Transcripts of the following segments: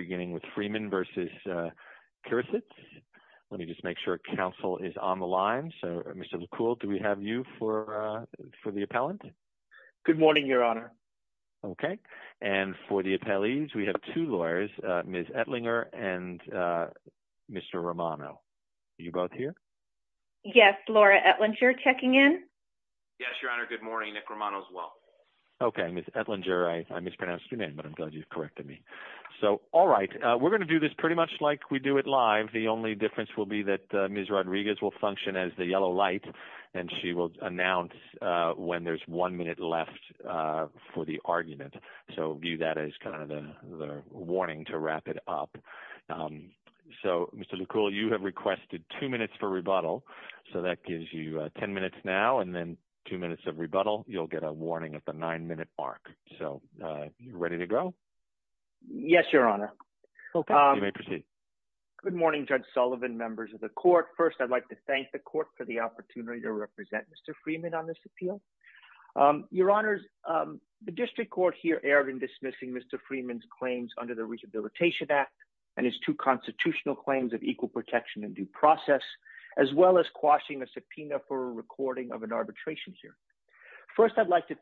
beginning with Freeman versus Kirisits. Let me just make sure council is on the line. So, Mr. LeCoultre, do we have you for the appellant? Good morning, Your Honor. Okay, and for the appellees, we have two lawyers, Ms. Etlinger and Mr. Romano. Are you both here? Yes, Laura Etlinger checking in. Yes, Your Honor, good morning. Nick Romano as well. Okay, Ms. Etlinger, I mispronounced your name, but I'm correct to me. So, all right, we're going to do this pretty much like we do it live. The only difference will be that Ms. Rodriguez will function as the yellow light, and she will announce when there's one minute left for the argument. So, view that as kind of a warning to wrap it up. So, Mr. LeCoultre, you have requested two minutes for rebuttal, so that gives you ten minutes now, and then two minutes of Yes, Your Honor. Okay, you may proceed. Good morning, Judge Sullivan, members of the court. First, I'd like to thank the court for the opportunity to represent Mr. Freeman on this appeal. Your Honors, the district court here erred in dismissing Mr. Freeman's claims under the Rehabilitation Act and his two constitutional claims of equal protection and due process, as well as quashing a subpoena for a recording of an arbitration hearing. First, I'd like to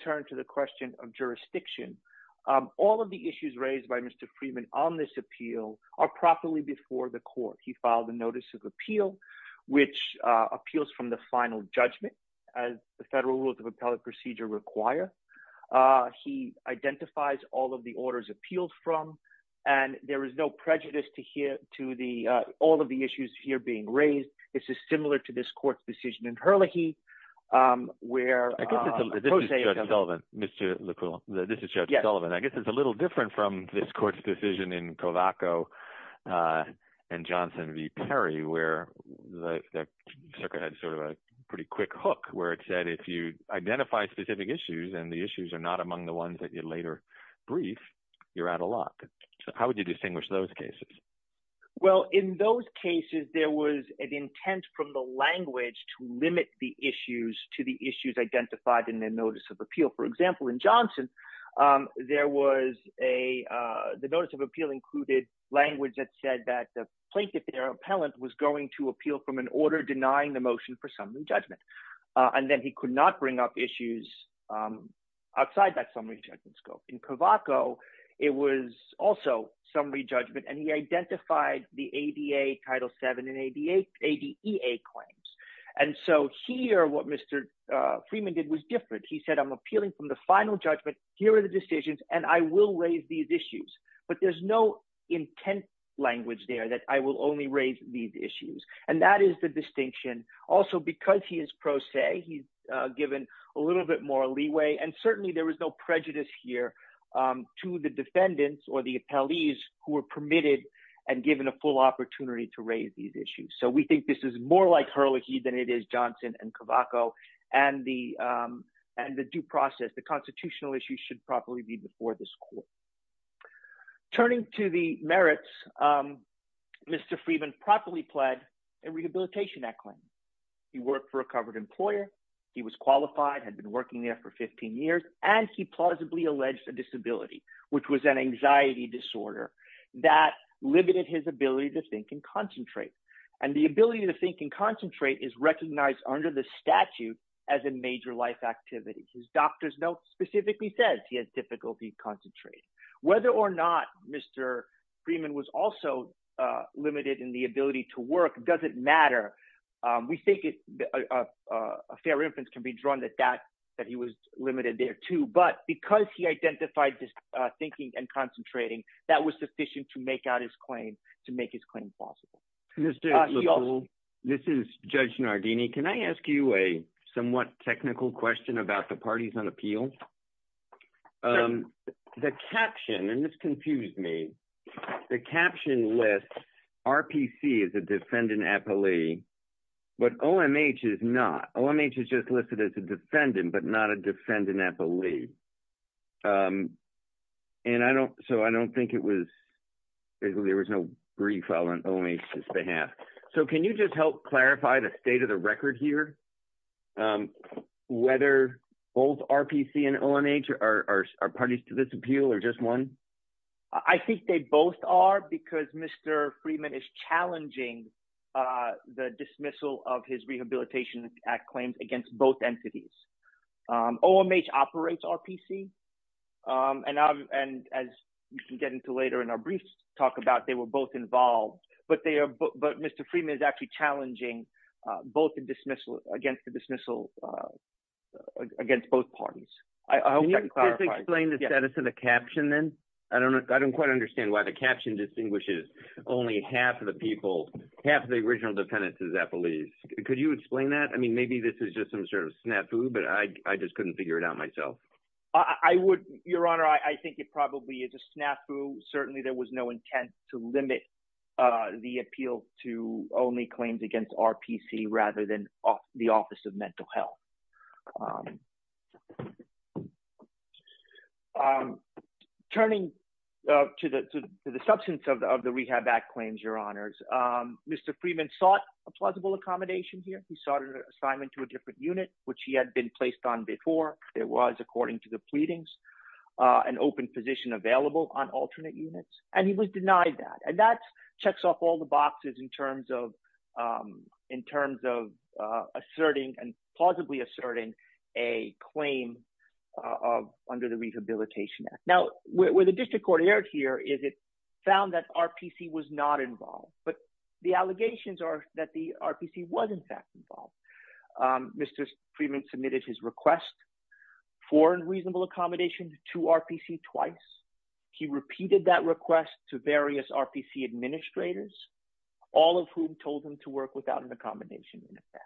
Mr. Freeman on this appeal are properly before the court. He filed a notice of appeal, which appeals from the final judgment, as the federal rules of appellate procedure require. He identifies all of the orders appealed from, and there is no prejudice to hear to the all of the issues here being raised. This is similar to this court's decision in Hurlehey, where I guess it's a little different from Mr. LeCoultre. I guess it's a little different from this court's decision in Covaco and Johnson v. Perry, where the circuit had sort of a pretty quick hook, where it said if you identify specific issues and the issues are not among the ones that you later brief, you're out of luck. How would you distinguish those cases? Well, in those cases, there was an intent from the language to limit the issues to the issues identified in their The notice of appeal included language that said that the plaintiff, their appellant, was going to appeal from an order denying the motion for summary judgment, and then he could not bring up issues outside that summary judgment scope. In Covaco, it was also summary judgment, and he identified the ADA Title 7 and ADA claims, and so here what Mr. Freeman did was different. He said, I'm appealing from the final judgment. Here are the decisions, and I will raise these issues, but there's no intent language there that I will only raise these issues, and that is the distinction. Also, because he is pro se, he's given a little bit more leeway, and certainly there was no prejudice here to the defendants or the appellees who were permitted and given a full opportunity to raise these issues, so we think this is more like Hurlehey than it is Johnson and Covaco, and the due process, the constitutional issue, should probably be before this court. Turning to the merits, Mr. Freeman properly pled a rehabilitation act claim. He worked for a covered employer. He was qualified, had been working there for 15 years, and he plausibly alleged a disability, which was an anxiety disorder that limited his ability to think and concentrate, and the ability to think and concentrate was a major life activity. His doctor's note specifically says he has difficulty concentrating. Whether or not Mr. Freeman was also limited in the ability to work doesn't matter. We think a fair inference can be drawn that that he was limited there too, but because he identified this thinking and concentrating, that was sufficient to make out his claim, to make his claim possible. This is Judge Nardini. Can I ask you a somewhat technical question about the parties on appeal? The caption, and this confused me, the caption lists RPC as a defendant appellee, but OMH is not. OMH is just listed as a defendant, but not a defendant appellee, and I don't, so I don't think it was, there was no brief on OMH's behalf. So can you just help clarify the state of the record here? Whether both RPC and OMH are parties to this appeal, or just one? I think they both are, because Mr. Freeman is challenging the dismissal of his Rehabilitation Act claims against both entities. OMH operates RPC, and as you can get into later in our briefs, talk about they were both involved, but they are, but Mr. Freeman is actually challenging both the dismissal, against the dismissal against both parties. Can you explain the status of the caption then? I don't know, I don't quite understand why the caption distinguishes only half of the people, half of the original defendants as appellees. Could you explain that? I mean, maybe this is just some sort of snafu, but I just couldn't figure it out myself. I would, Your Honor, I think it probably is a snafu. Certainly there was no intent to limit the appeal to only claims against RPC, rather than the Office of Mental Health. Turning to the substance of the Rehab Act claims, Your Honors, Mr. Freeman sought a plausible accommodation here. He sought an assignment to a different unit, which he had been placed on before. It was, according to the pleadings, an open position available on alternate units, and he was denied that, and that checks off all the boxes in terms of, in terms of asserting and plausibly asserting a claim under the Rehabilitation Act. Now, where the District Court erred here, is it found that RPC was not involved, but the allegations are that the RPC was, in fact, involved. Mr. Freeman submitted his request for a reasonable accommodation to RPC twice. He repeated that request to various RPC administrators, all of whom told him to work without an accommodation, in effect.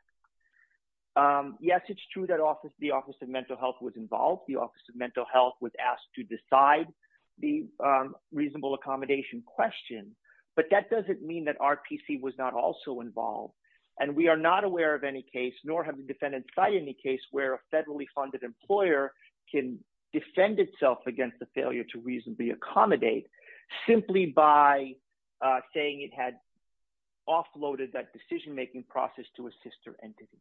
Yes, it's true that the Office of Mental Health was involved. The Office of Mental Health was asked to decide the RPC was not also involved, and we are not aware of any case, nor have the defendants cited any case where a federally funded employer can defend itself against the failure to reasonably accommodate, simply by saying it had offloaded that decision-making process to a sister entity.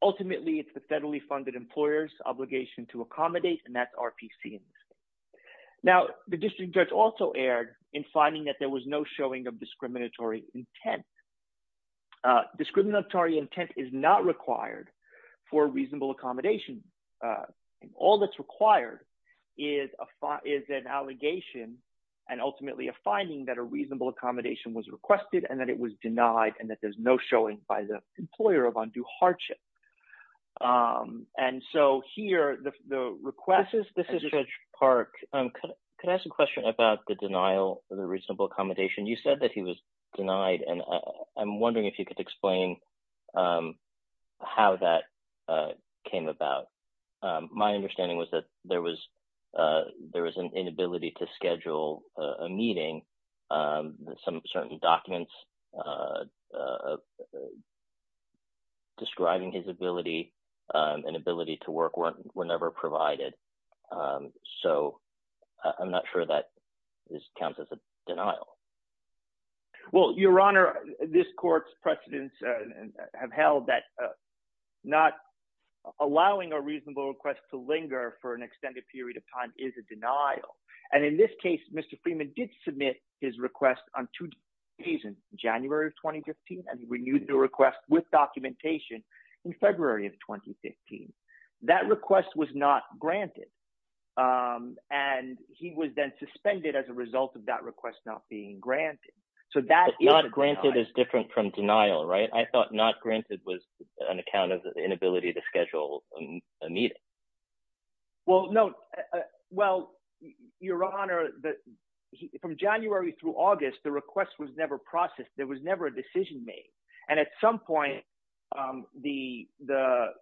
Ultimately, it's the federally funded employer's obligation to accommodate, and that's RPC. Now, the District Judge also erred in finding that there was no showing of discriminatory intent. Discriminatory intent is not required for a reasonable accommodation. All that's required is an allegation, and ultimately a finding, that a reasonable accommodation was requested, and that it was denied, and that there's no showing by the employer of undue hardship. And so, here, the request... This is Judge Park. Could I ask a question about the denial of the RPC? It was denied, and I'm wondering if you could explain how that came about. My understanding was that there was an inability to schedule a meeting. Some certain documents describing his ability and ability to work were never provided, so I'm not sure that this counts as a denial. Well, Your Honor, this court's precedents have held that not allowing a reasonable request to linger for an extended period of time is a denial, and in this case, Mr. Freeman did submit his request on two days in January of 2015, and he renewed the request with documentation in February of 2015. That request was not granted, and he was then suspended as a result of that request not being granted. So, that is a denial. Not granted is different from denial, right? I thought not granted was an account of the inability to schedule a meeting. Well, no. Well, Your Honor, from January through August, the request was never processed. There was never a denial. At this point, the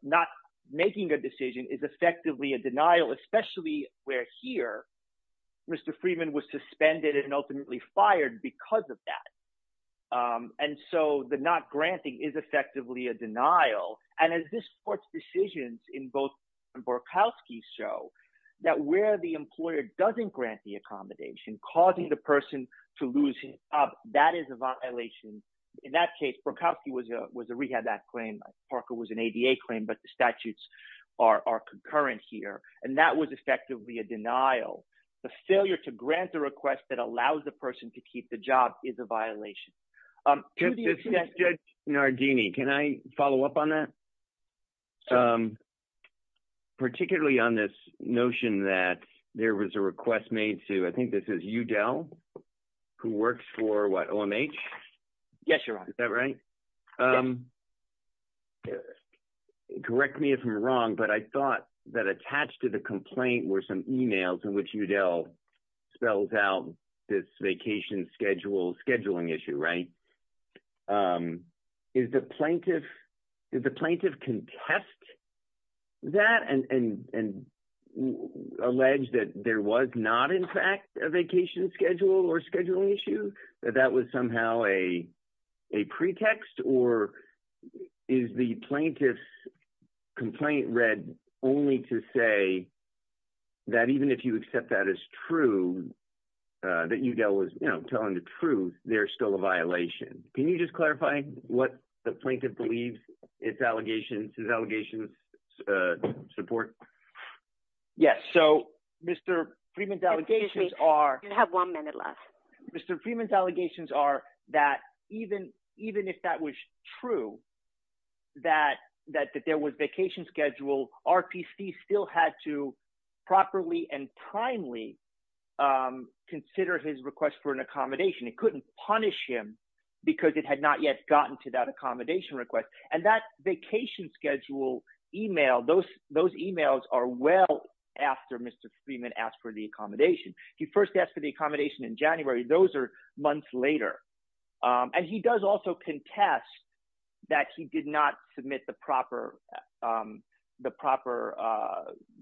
not making a decision is effectively a denial, especially where here, Mr. Freeman was suspended and ultimately fired because of that. And so, the not granting is effectively a denial, and as this court's decisions in both Borkowski show, that where the employer doesn't grant the accommodation, causing the person to lose him, that is a violation. In that case, Borkowski was a rehab act claim, Parker was an ADA claim, but the statutes are concurrent here, and that was effectively a denial. The failure to grant the request that allows the person to keep the job is a violation. Judge Nardini, can I follow up on that? Particularly on this notion that there was a request made to, I think this is Udell, who works for, what, OMH? Yes, Your Honor. Is that right? Correct me if I'm wrong, but I thought that attached to the complaint were some emails in which Udell spells out this vacation schedule, scheduling issue, right? Did the plaintiff contest that and allege that there was not, in fact, a vacation schedule or scheduling issue? That that was somehow a a pretext, or is the plaintiff's complaint read only to say that even if you accept that as true, that Udell was, you know, telling the truth, there's still a violation? Can you just clarify what the plaintiff believes its allegations, his allegations support? Yes, so Mr. Freeman's allegations are... that even if that was true, that there was vacation schedule, RPC still had to properly and primely consider his request for an accommodation. It couldn't punish him because it had not yet gotten to that accommodation request, and that vacation schedule email, those emails are well after Mr. Freeman asked for the accommodation. He first asked for the accommodation a few months later, and he does also contest that he did not submit the proper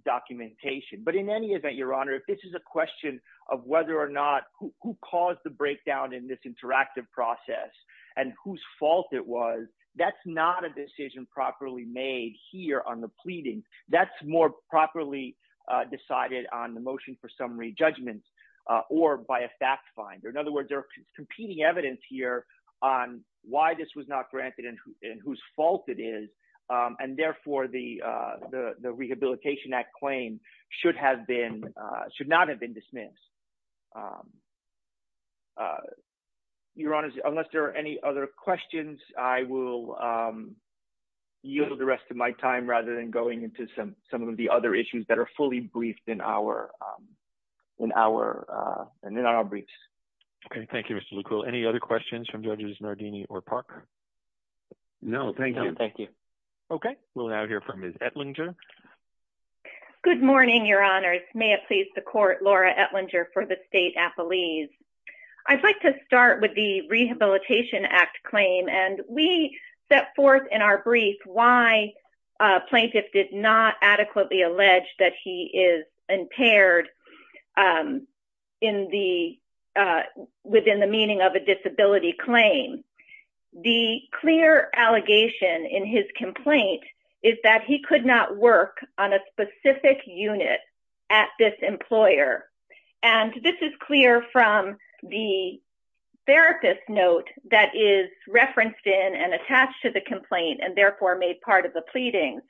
documentation, but in any event, Your Honor, if this is a question of whether or not who caused the breakdown in this interactive process and whose fault it was, that's not a decision properly made here on the pleading. That's more properly decided on the motion for summary judgments or by a fact finder. In other words, there is competing evidence here on why this was not granted and whose fault it is, and therefore the Rehabilitation Act claim should not have been dismissed. Your Honor, unless there are any other questions, I will yield the rest of my time rather than going into some of the other issues that are fully briefed in our briefs. Okay. Thank you, Mr. Lukul. Any other questions from Judges Nardini or Park? No. Thank you. Thank you. Okay. We'll now hear from Ms. Etlinger. Good morning, Your Honors. May it please the Court, Laura Etlinger for the State Appellees. I'd like to start with the Rehabilitation Act claim, and we set forth in our brief why a plaintiff did not adequately allege that he is impaired within the meaning of a disability claim. The clear allegation in his complaint is that he could not work on a specific unit at this employer, and this is clear from the therapist's note that is referenced in and attached to the complaint, and therefore made part of the pleading.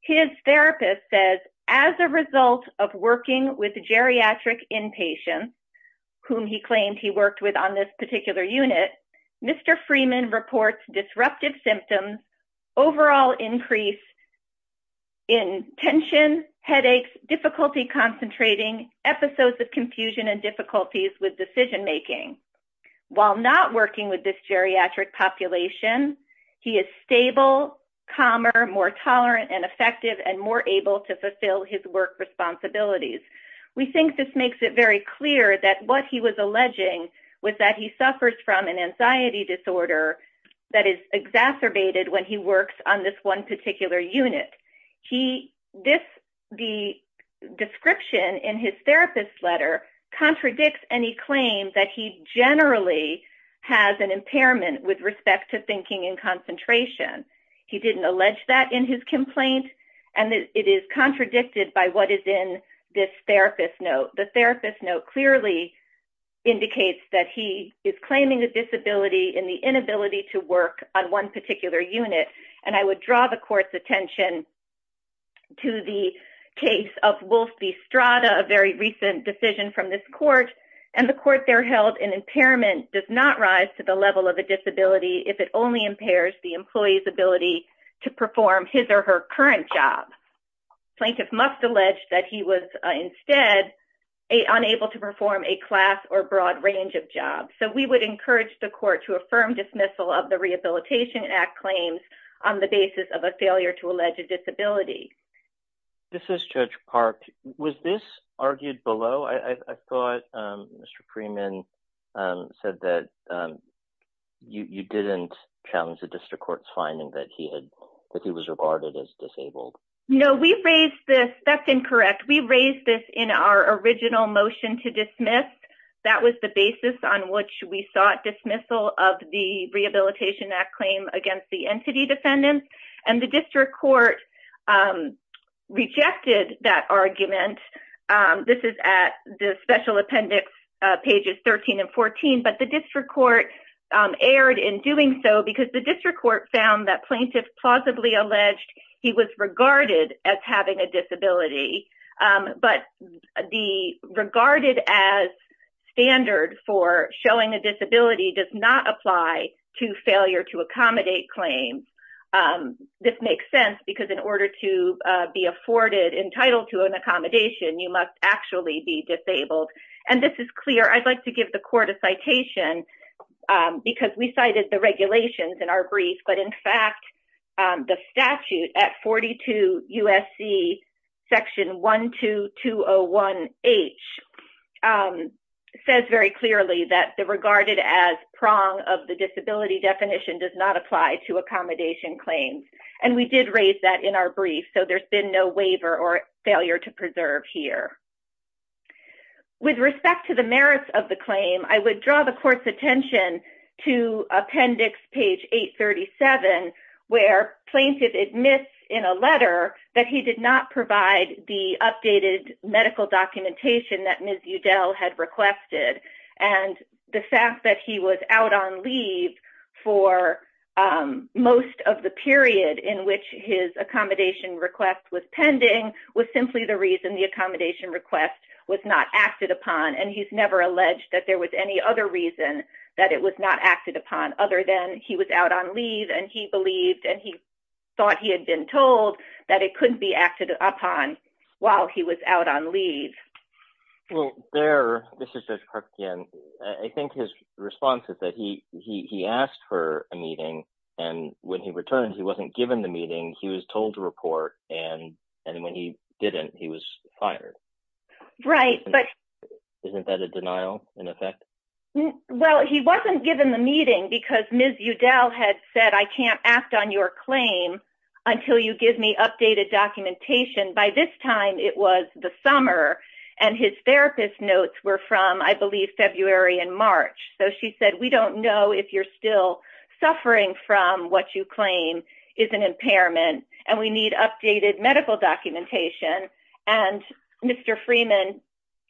His therapist says, as a result of working with geriatric inpatients, whom he claimed he worked with on this particular unit, Mr. Freeman reports disruptive symptoms, overall increase in tension, headaches, difficulty concentrating, episodes of confusion, and difficulties with decision-making. While not working with this geriatric population, he is stable, calmer, more tolerant and effective, and more able to fulfill his work responsibilities. We think this makes it very clear that what he was alleging was that he suffers from an anxiety disorder that is exacerbated when he works on this one particular unit. The description in his therapist's letter contradicts any claim that he generally has an impairment with respect to thinking and concentration. He didn't allege that in his complaint, and it is contradicted by what is in this therapist's note. The therapist's note clearly indicates that he is claiming a disability in the inability to work on one particular unit, and I would draw the court's attention to the case of Wolfie Strada, a very recent decision from this court, and the court there held an impairment does not rise to the level of a disability if it only impairs the employee's ability to perform his or her current job. Plaintiffs must allege that he was instead unable to perform a class or broad range of jobs, so we would encourage the court to affirm dismissal of the Rehabilitation Act claims on the basis of a failure to allege a disability. This is Judge Park. Was this argued below? I thought Mr. Freeman said that you didn't challenge the district court's finding that he was regarded as disabled. No, we raised this, that's incorrect, we raised this in our original motion to dismiss. That was the basis on which we sought dismissal of the Rehabilitation Act claim against the This is at the special appendix pages 13 and 14, but the district court erred in doing so because the district court found that plaintiffs plausibly alleged he was regarded as having a disability, but the regarded as standard for showing a disability does not apply to failure to accommodate claims. This makes sense because in order to be afforded entitled to an accommodation, you must actually be disabled, and this is clear. I'd like to give the court a citation because we cited the regulations in our brief, but in fact the statute at 42 USC section 12201H says very clearly that the regarded as prong of the disability definition does not apply to accommodation claims, and we did raise that in our brief, so there's been no waiver or failure to preserve here. With respect to the merits of the claim, I would draw the court's attention to appendix page 837 where plaintiff admits in a letter that he did not provide the updated medical documentation that Ms. Udell had requested, and the fact that he was out on leave for most of the period in which his accommodation request was pending was simply the reason the accommodation request was not acted upon, and he's never alleged that there was any other reason that it was not acted upon other than he was out on leave and he believed and he thought he had been told that it couldn't be acted upon while he was out on leave. Well there, Mr. Judge Karpukian, I think his response is that he asked for a meeting and when he returned he wasn't given the meeting, he was told to report, and when he didn't he was fired. Right, but isn't that a denial in effect? Well he wasn't given the meeting because Ms. Udell had said I can't act on your claim until you give me updated documentation. By this time it was the summer and his therapist notes were from I believe February and March, so she said we don't know if you're still suffering from what you claim is an impairment and we need updated medical documentation, and Mr. Freeman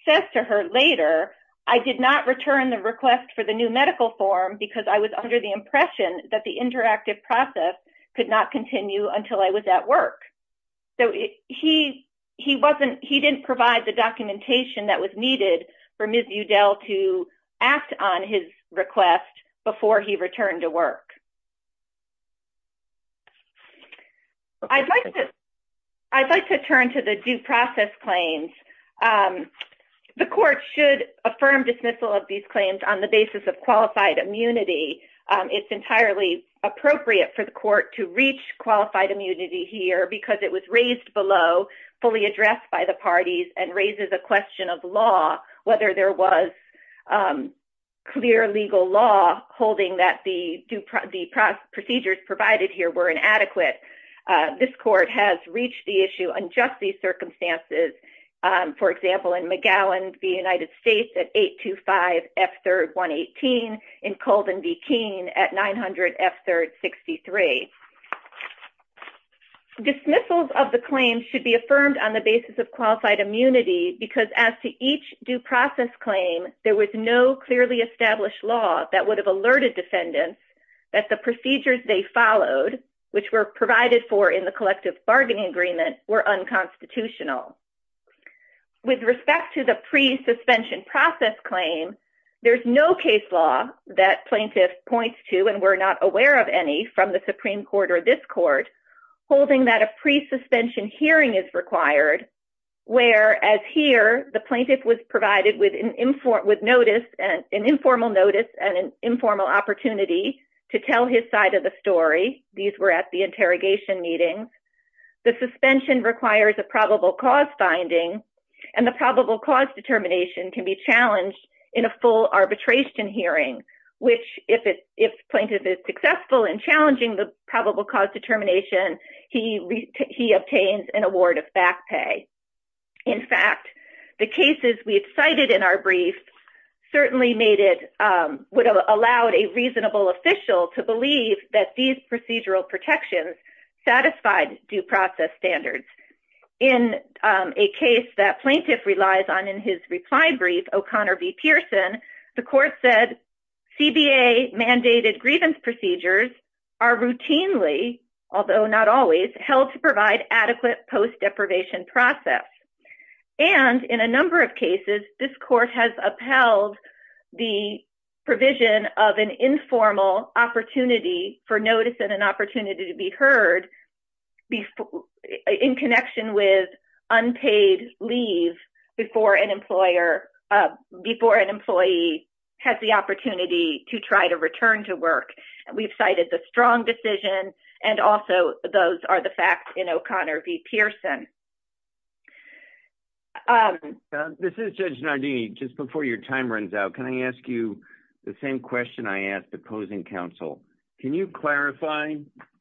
says to her later I did not return the request for the new medical form because I was under the impression that the interactive process could not continue until I was at work. So he wasn't, he didn't provide the documentation that was needed for Ms. Udell to act on his request before he returned to work. I'd like to, I'd like to turn to the due process claims. The court should affirm dismissal of these claims on the basis of qualified immunity. It's entirely appropriate for the court to reach fully addressed by the parties and raises a question of law, whether there was clear legal law holding that the procedures provided here were inadequate. This court has reached the issue unjustly circumstances, for example in McGowan v. United States at 825 F3RD 118, in Colvin v. Keene at 900 F3RD 63. Dismissals of the claims should be affirmed on the basis of qualified immunity because as to each due process claim there was no clearly established law that would have alerted defendants that the procedures they followed, which were provided for in the collective bargaining agreement, were unconstitutional. With respect to the pre-suspension process claim, there's no case law that plaintiff points to, and we're not aware of any from the Supreme Court or this court, holding that a pre-suspension hearing is required where, as here, the plaintiff was provided with an informal notice and an informal opportunity to tell his side of the story. These were at the interrogation meetings. The suspension requires a probable cause finding and the probable cause determination can be challenged in a arbitration hearing, which if plaintiff is successful in challenging the probable cause determination, he obtains an award of back pay. In fact, the cases we've cited in our brief certainly would have allowed a reasonable official to believe that these procedural protections satisfied due process standards. In a case that plaintiff relies on in his reply brief, O'Connor v. Pearson, the court said CBA-mandated grievance procedures are routinely, although not always, held to provide adequate post-deprivation process. And in a number of cases, this court has upheld the provision of an informal opportunity for notice and an opportunity to be heard in connection with unpaid leave before an employee has the opportunity to try to return to work. We've cited the strong decision and also those are the facts in O'Connor v. Pearson. This is Judge Nardini. Just before your time runs out, can I ask you the same question I asked opposing counsel? Can you clarify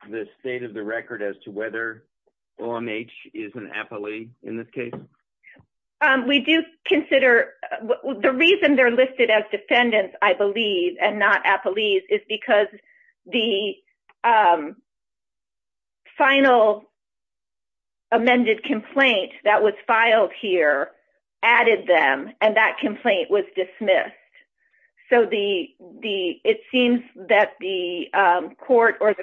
the state of the case? We do consider, the reason they're listed as defendants, I believe, and not appellees is because the final amended complaint that was filed here added them and that complaint was dismissed. So, it seems that the court or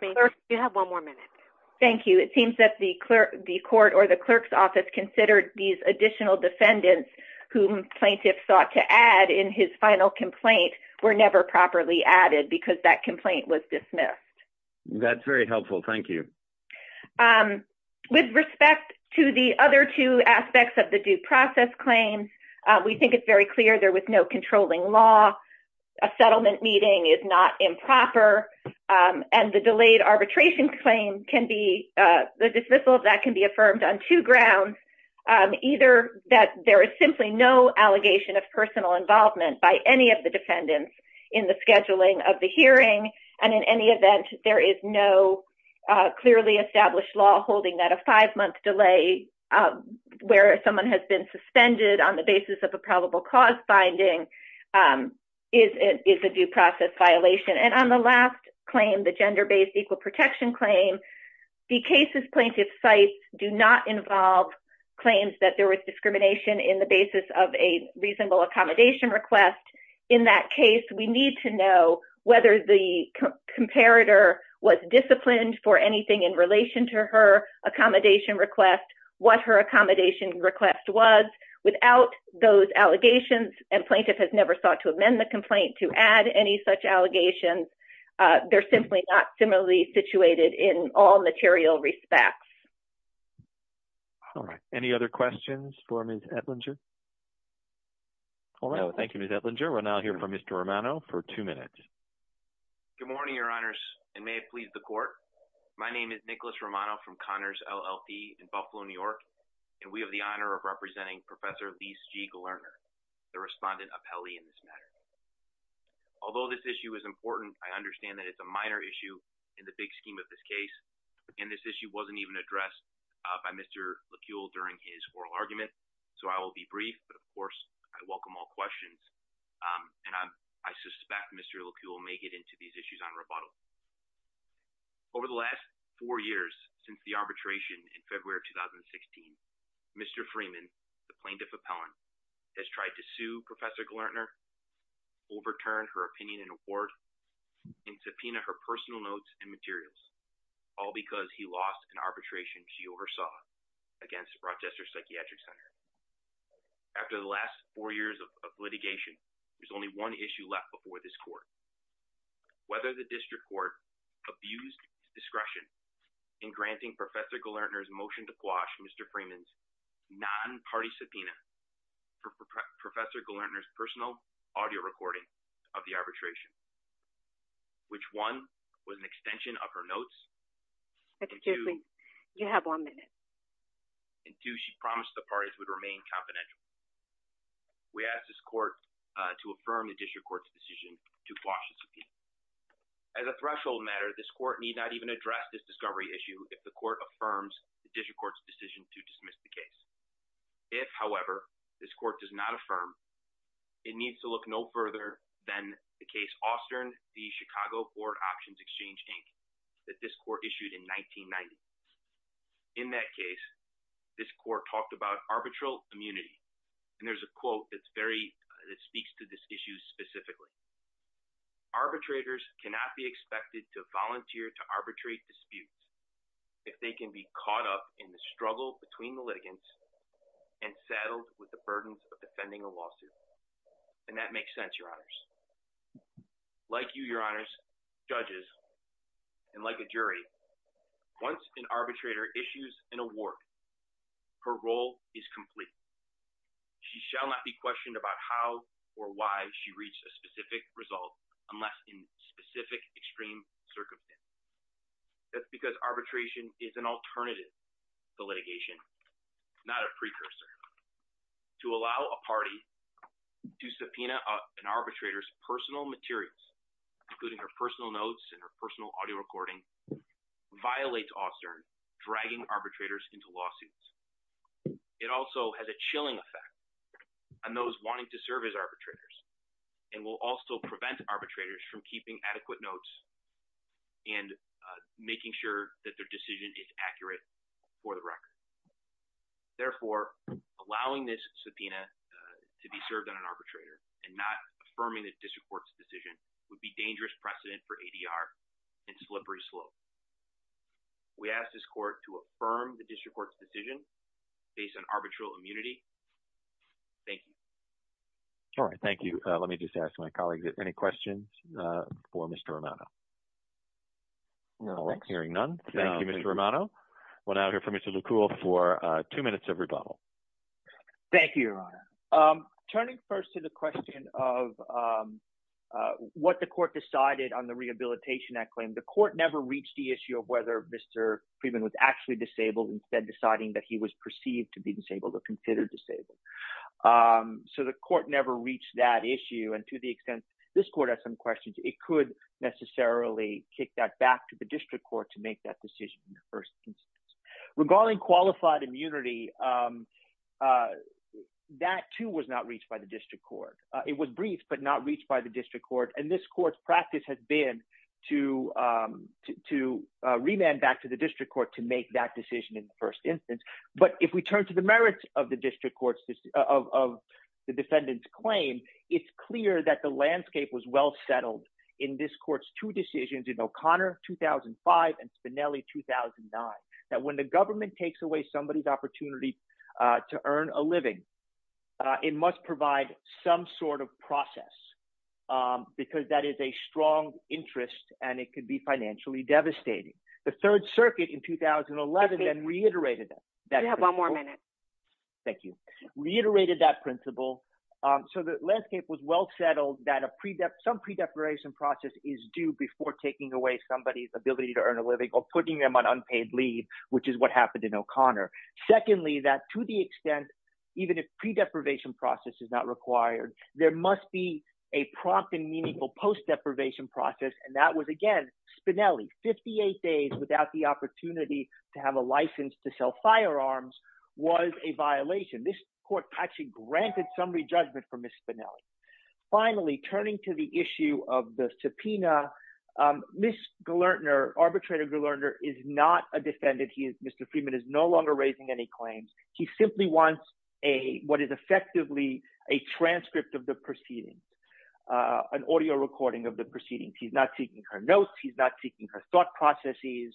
the clerk's office considered these additional defendants whom plaintiff sought to add in his final complaint were never properly added because that complaint was dismissed. That's very helpful. Thank you. With respect to the other two aspects of the due process claim, we think it's very clear there was no controlling law. A settlement meeting is not improper and the delayed grounds either that there is simply no allegation of personal involvement by any of the defendants in the scheduling of the hearing and in any event there is no clearly established law holding that a five-month delay where someone has been suspended on the basis of a probable cause finding is a due process violation. And on the last claim, the gender-based equal protection claim, the claims that there was discrimination in the basis of a reasonable accommodation request. In that case, we need to know whether the comparator was disciplined for anything in relation to her accommodation request, what her accommodation request was. Without those allegations, and plaintiff has never sought to amend the complaint to add any such allegations, they're simply not formally situated in all material respects. All right. Any other questions for Ms. Etlinger? All right. Thank you, Ms. Etlinger. We'll now hear from Mr. Romano for two minutes. Good morning, your honors, and may it please the court. My name is Nicholas Romano from Connors LLP in Buffalo, New York, and we have the honor of representing Professor Lise G. Glerner, the respondent appellee in this matter. Although this issue is important, I understand that it's a minor issue in the big scheme of this case, and this issue wasn't even addressed by Mr. LeCuel during his oral argument, so I will be brief, but of course I welcome all questions, and I suspect Mr. LeCuel may get into these issues on rebuttal. Over the last four years since the arbitration in February 2016, Mr. Glerner overturned her opinion and award and subpoenaed her personal notes and materials, all because he lost an arbitration she oversaw against Rochester Psychiatric Center. After the last four years of litigation, there's only one issue left before this court. Whether the district court abused discretion in granting Professor Glerner's motion to quash Mr. Freeman's non-party subpoena for Professor Glerner's personal audio recording of the arbitration, which one was an extension of her notes, and two she promised the parties would remain confidential. We asked this court to affirm the district court's decision to quash the subpoena. As a threshold matter, this court need not even address this discovery issue if the court affirms the district court's decision to dismiss the case. If, however, this court does not affirm, it needs to look no further than the case Austern v. Chicago Board Options Exchange, Inc. that this court issued in 1990. In that case, this court talked about arbitral immunity, and there's a quote that speaks to this issue specifically. Arbitrators cannot be expected to volunteer to arbitrate disputes if they can be caught up in the struggle between the litigants and saddled with the burdens of defending a lawsuit, and that makes sense, Your Honors. Like you, Your Honors, judges, and like a jury, once an arbitrator issues an award, her role is complete. She shall not be questioned about how or why she reached a specific result unless in specific extreme circumstances. That's because arbitration is an alternative to litigation, not a precursor. To allow a party to subpoena an arbitrator's personal materials, including her personal notes and her personal audio recording, violates Austern dragging arbitrators into lawsuits. It also has a chilling effect on those wanting to serve as arbitrators and will also prevent arbitrators from keeping adequate notes and making sure that their decision is accurate for the record. Therefore, allowing this subpoena to be served on an arbitrator and not affirming the district court's decision would be dangerous precedent for ADR and slippery slope. We ask this court to affirm the district court's decision based on arbitral immunity. Thank you. All right, thank you. Let me just ask my colleagues if there are any questions for Thank you, Mr. Romano. We'll now hear from Mr. LeCoultre for two minutes of rebuttal. Thank you, Your Honor. Turning first to the question of what the court decided on the Rehabilitation Act claim, the court never reached the issue of whether Mr. Freeman was actually disabled, instead deciding that he was perceived to be disabled or considered disabled. So the court never reached that issue, and to the extent this court has some questions, it could necessarily kick that back to the district court to make that decision. Regarding qualified immunity, that too was not reached by the district court. It was briefed but not reached by the district court, and this court's practice has been to remand back to the district court to make that decision in the first instance. But if we turn to the merits of the defendant's claim, it's clear that the landscape was well settled in this court's two decisions in O'Connor 2005 and Spinelli 2009, that when the government takes away somebody's opportunity to earn a living, it must provide some sort of process, because that is a strong interest and it could be financially devastating. The Third Circuit in 2011 then reiterated that. You have one more minute. Thank you. Reiterated that principle. So the landscape was well settled that some pre-deprivation process is due before taking away somebody's ability to earn a living or putting them on unpaid leave, which is what happened in O'Connor. Secondly, that to the extent even if pre-deprivation process is not required, there must be a prompt and meaningful post-deprivation process, and that was again Spinelli. 58 days without the opportunity to have a license to sell granted some re-judgment for Ms. Spinelli. Finally, turning to the issue of the subpoena, Ms. Galertner, arbitrator Galertner, is not a defendant. Mr. Freeman is no longer raising any claims. He simply wants what is effectively a transcript of the proceedings, an audio recording of the proceedings. He's not taking her notes. He's not taking her thought processes.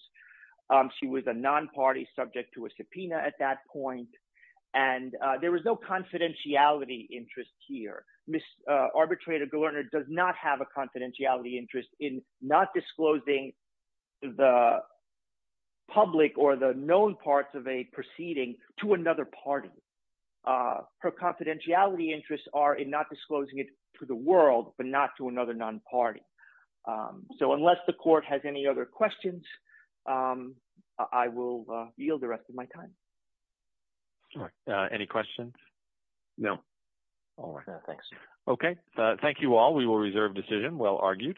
She was a non-party subject to a subpoena at that point, and there was no confidentiality interest here. Ms. arbitrator Galertner does not have a confidentiality interest in not disclosing the public or the known parts of a proceeding to another party. Her confidentiality interests are in not disclosing it to the world, but not to yield the rest of my time. Any questions? No. All right. Thanks. Okay. Thank you all. We will reserve decision. Well argued.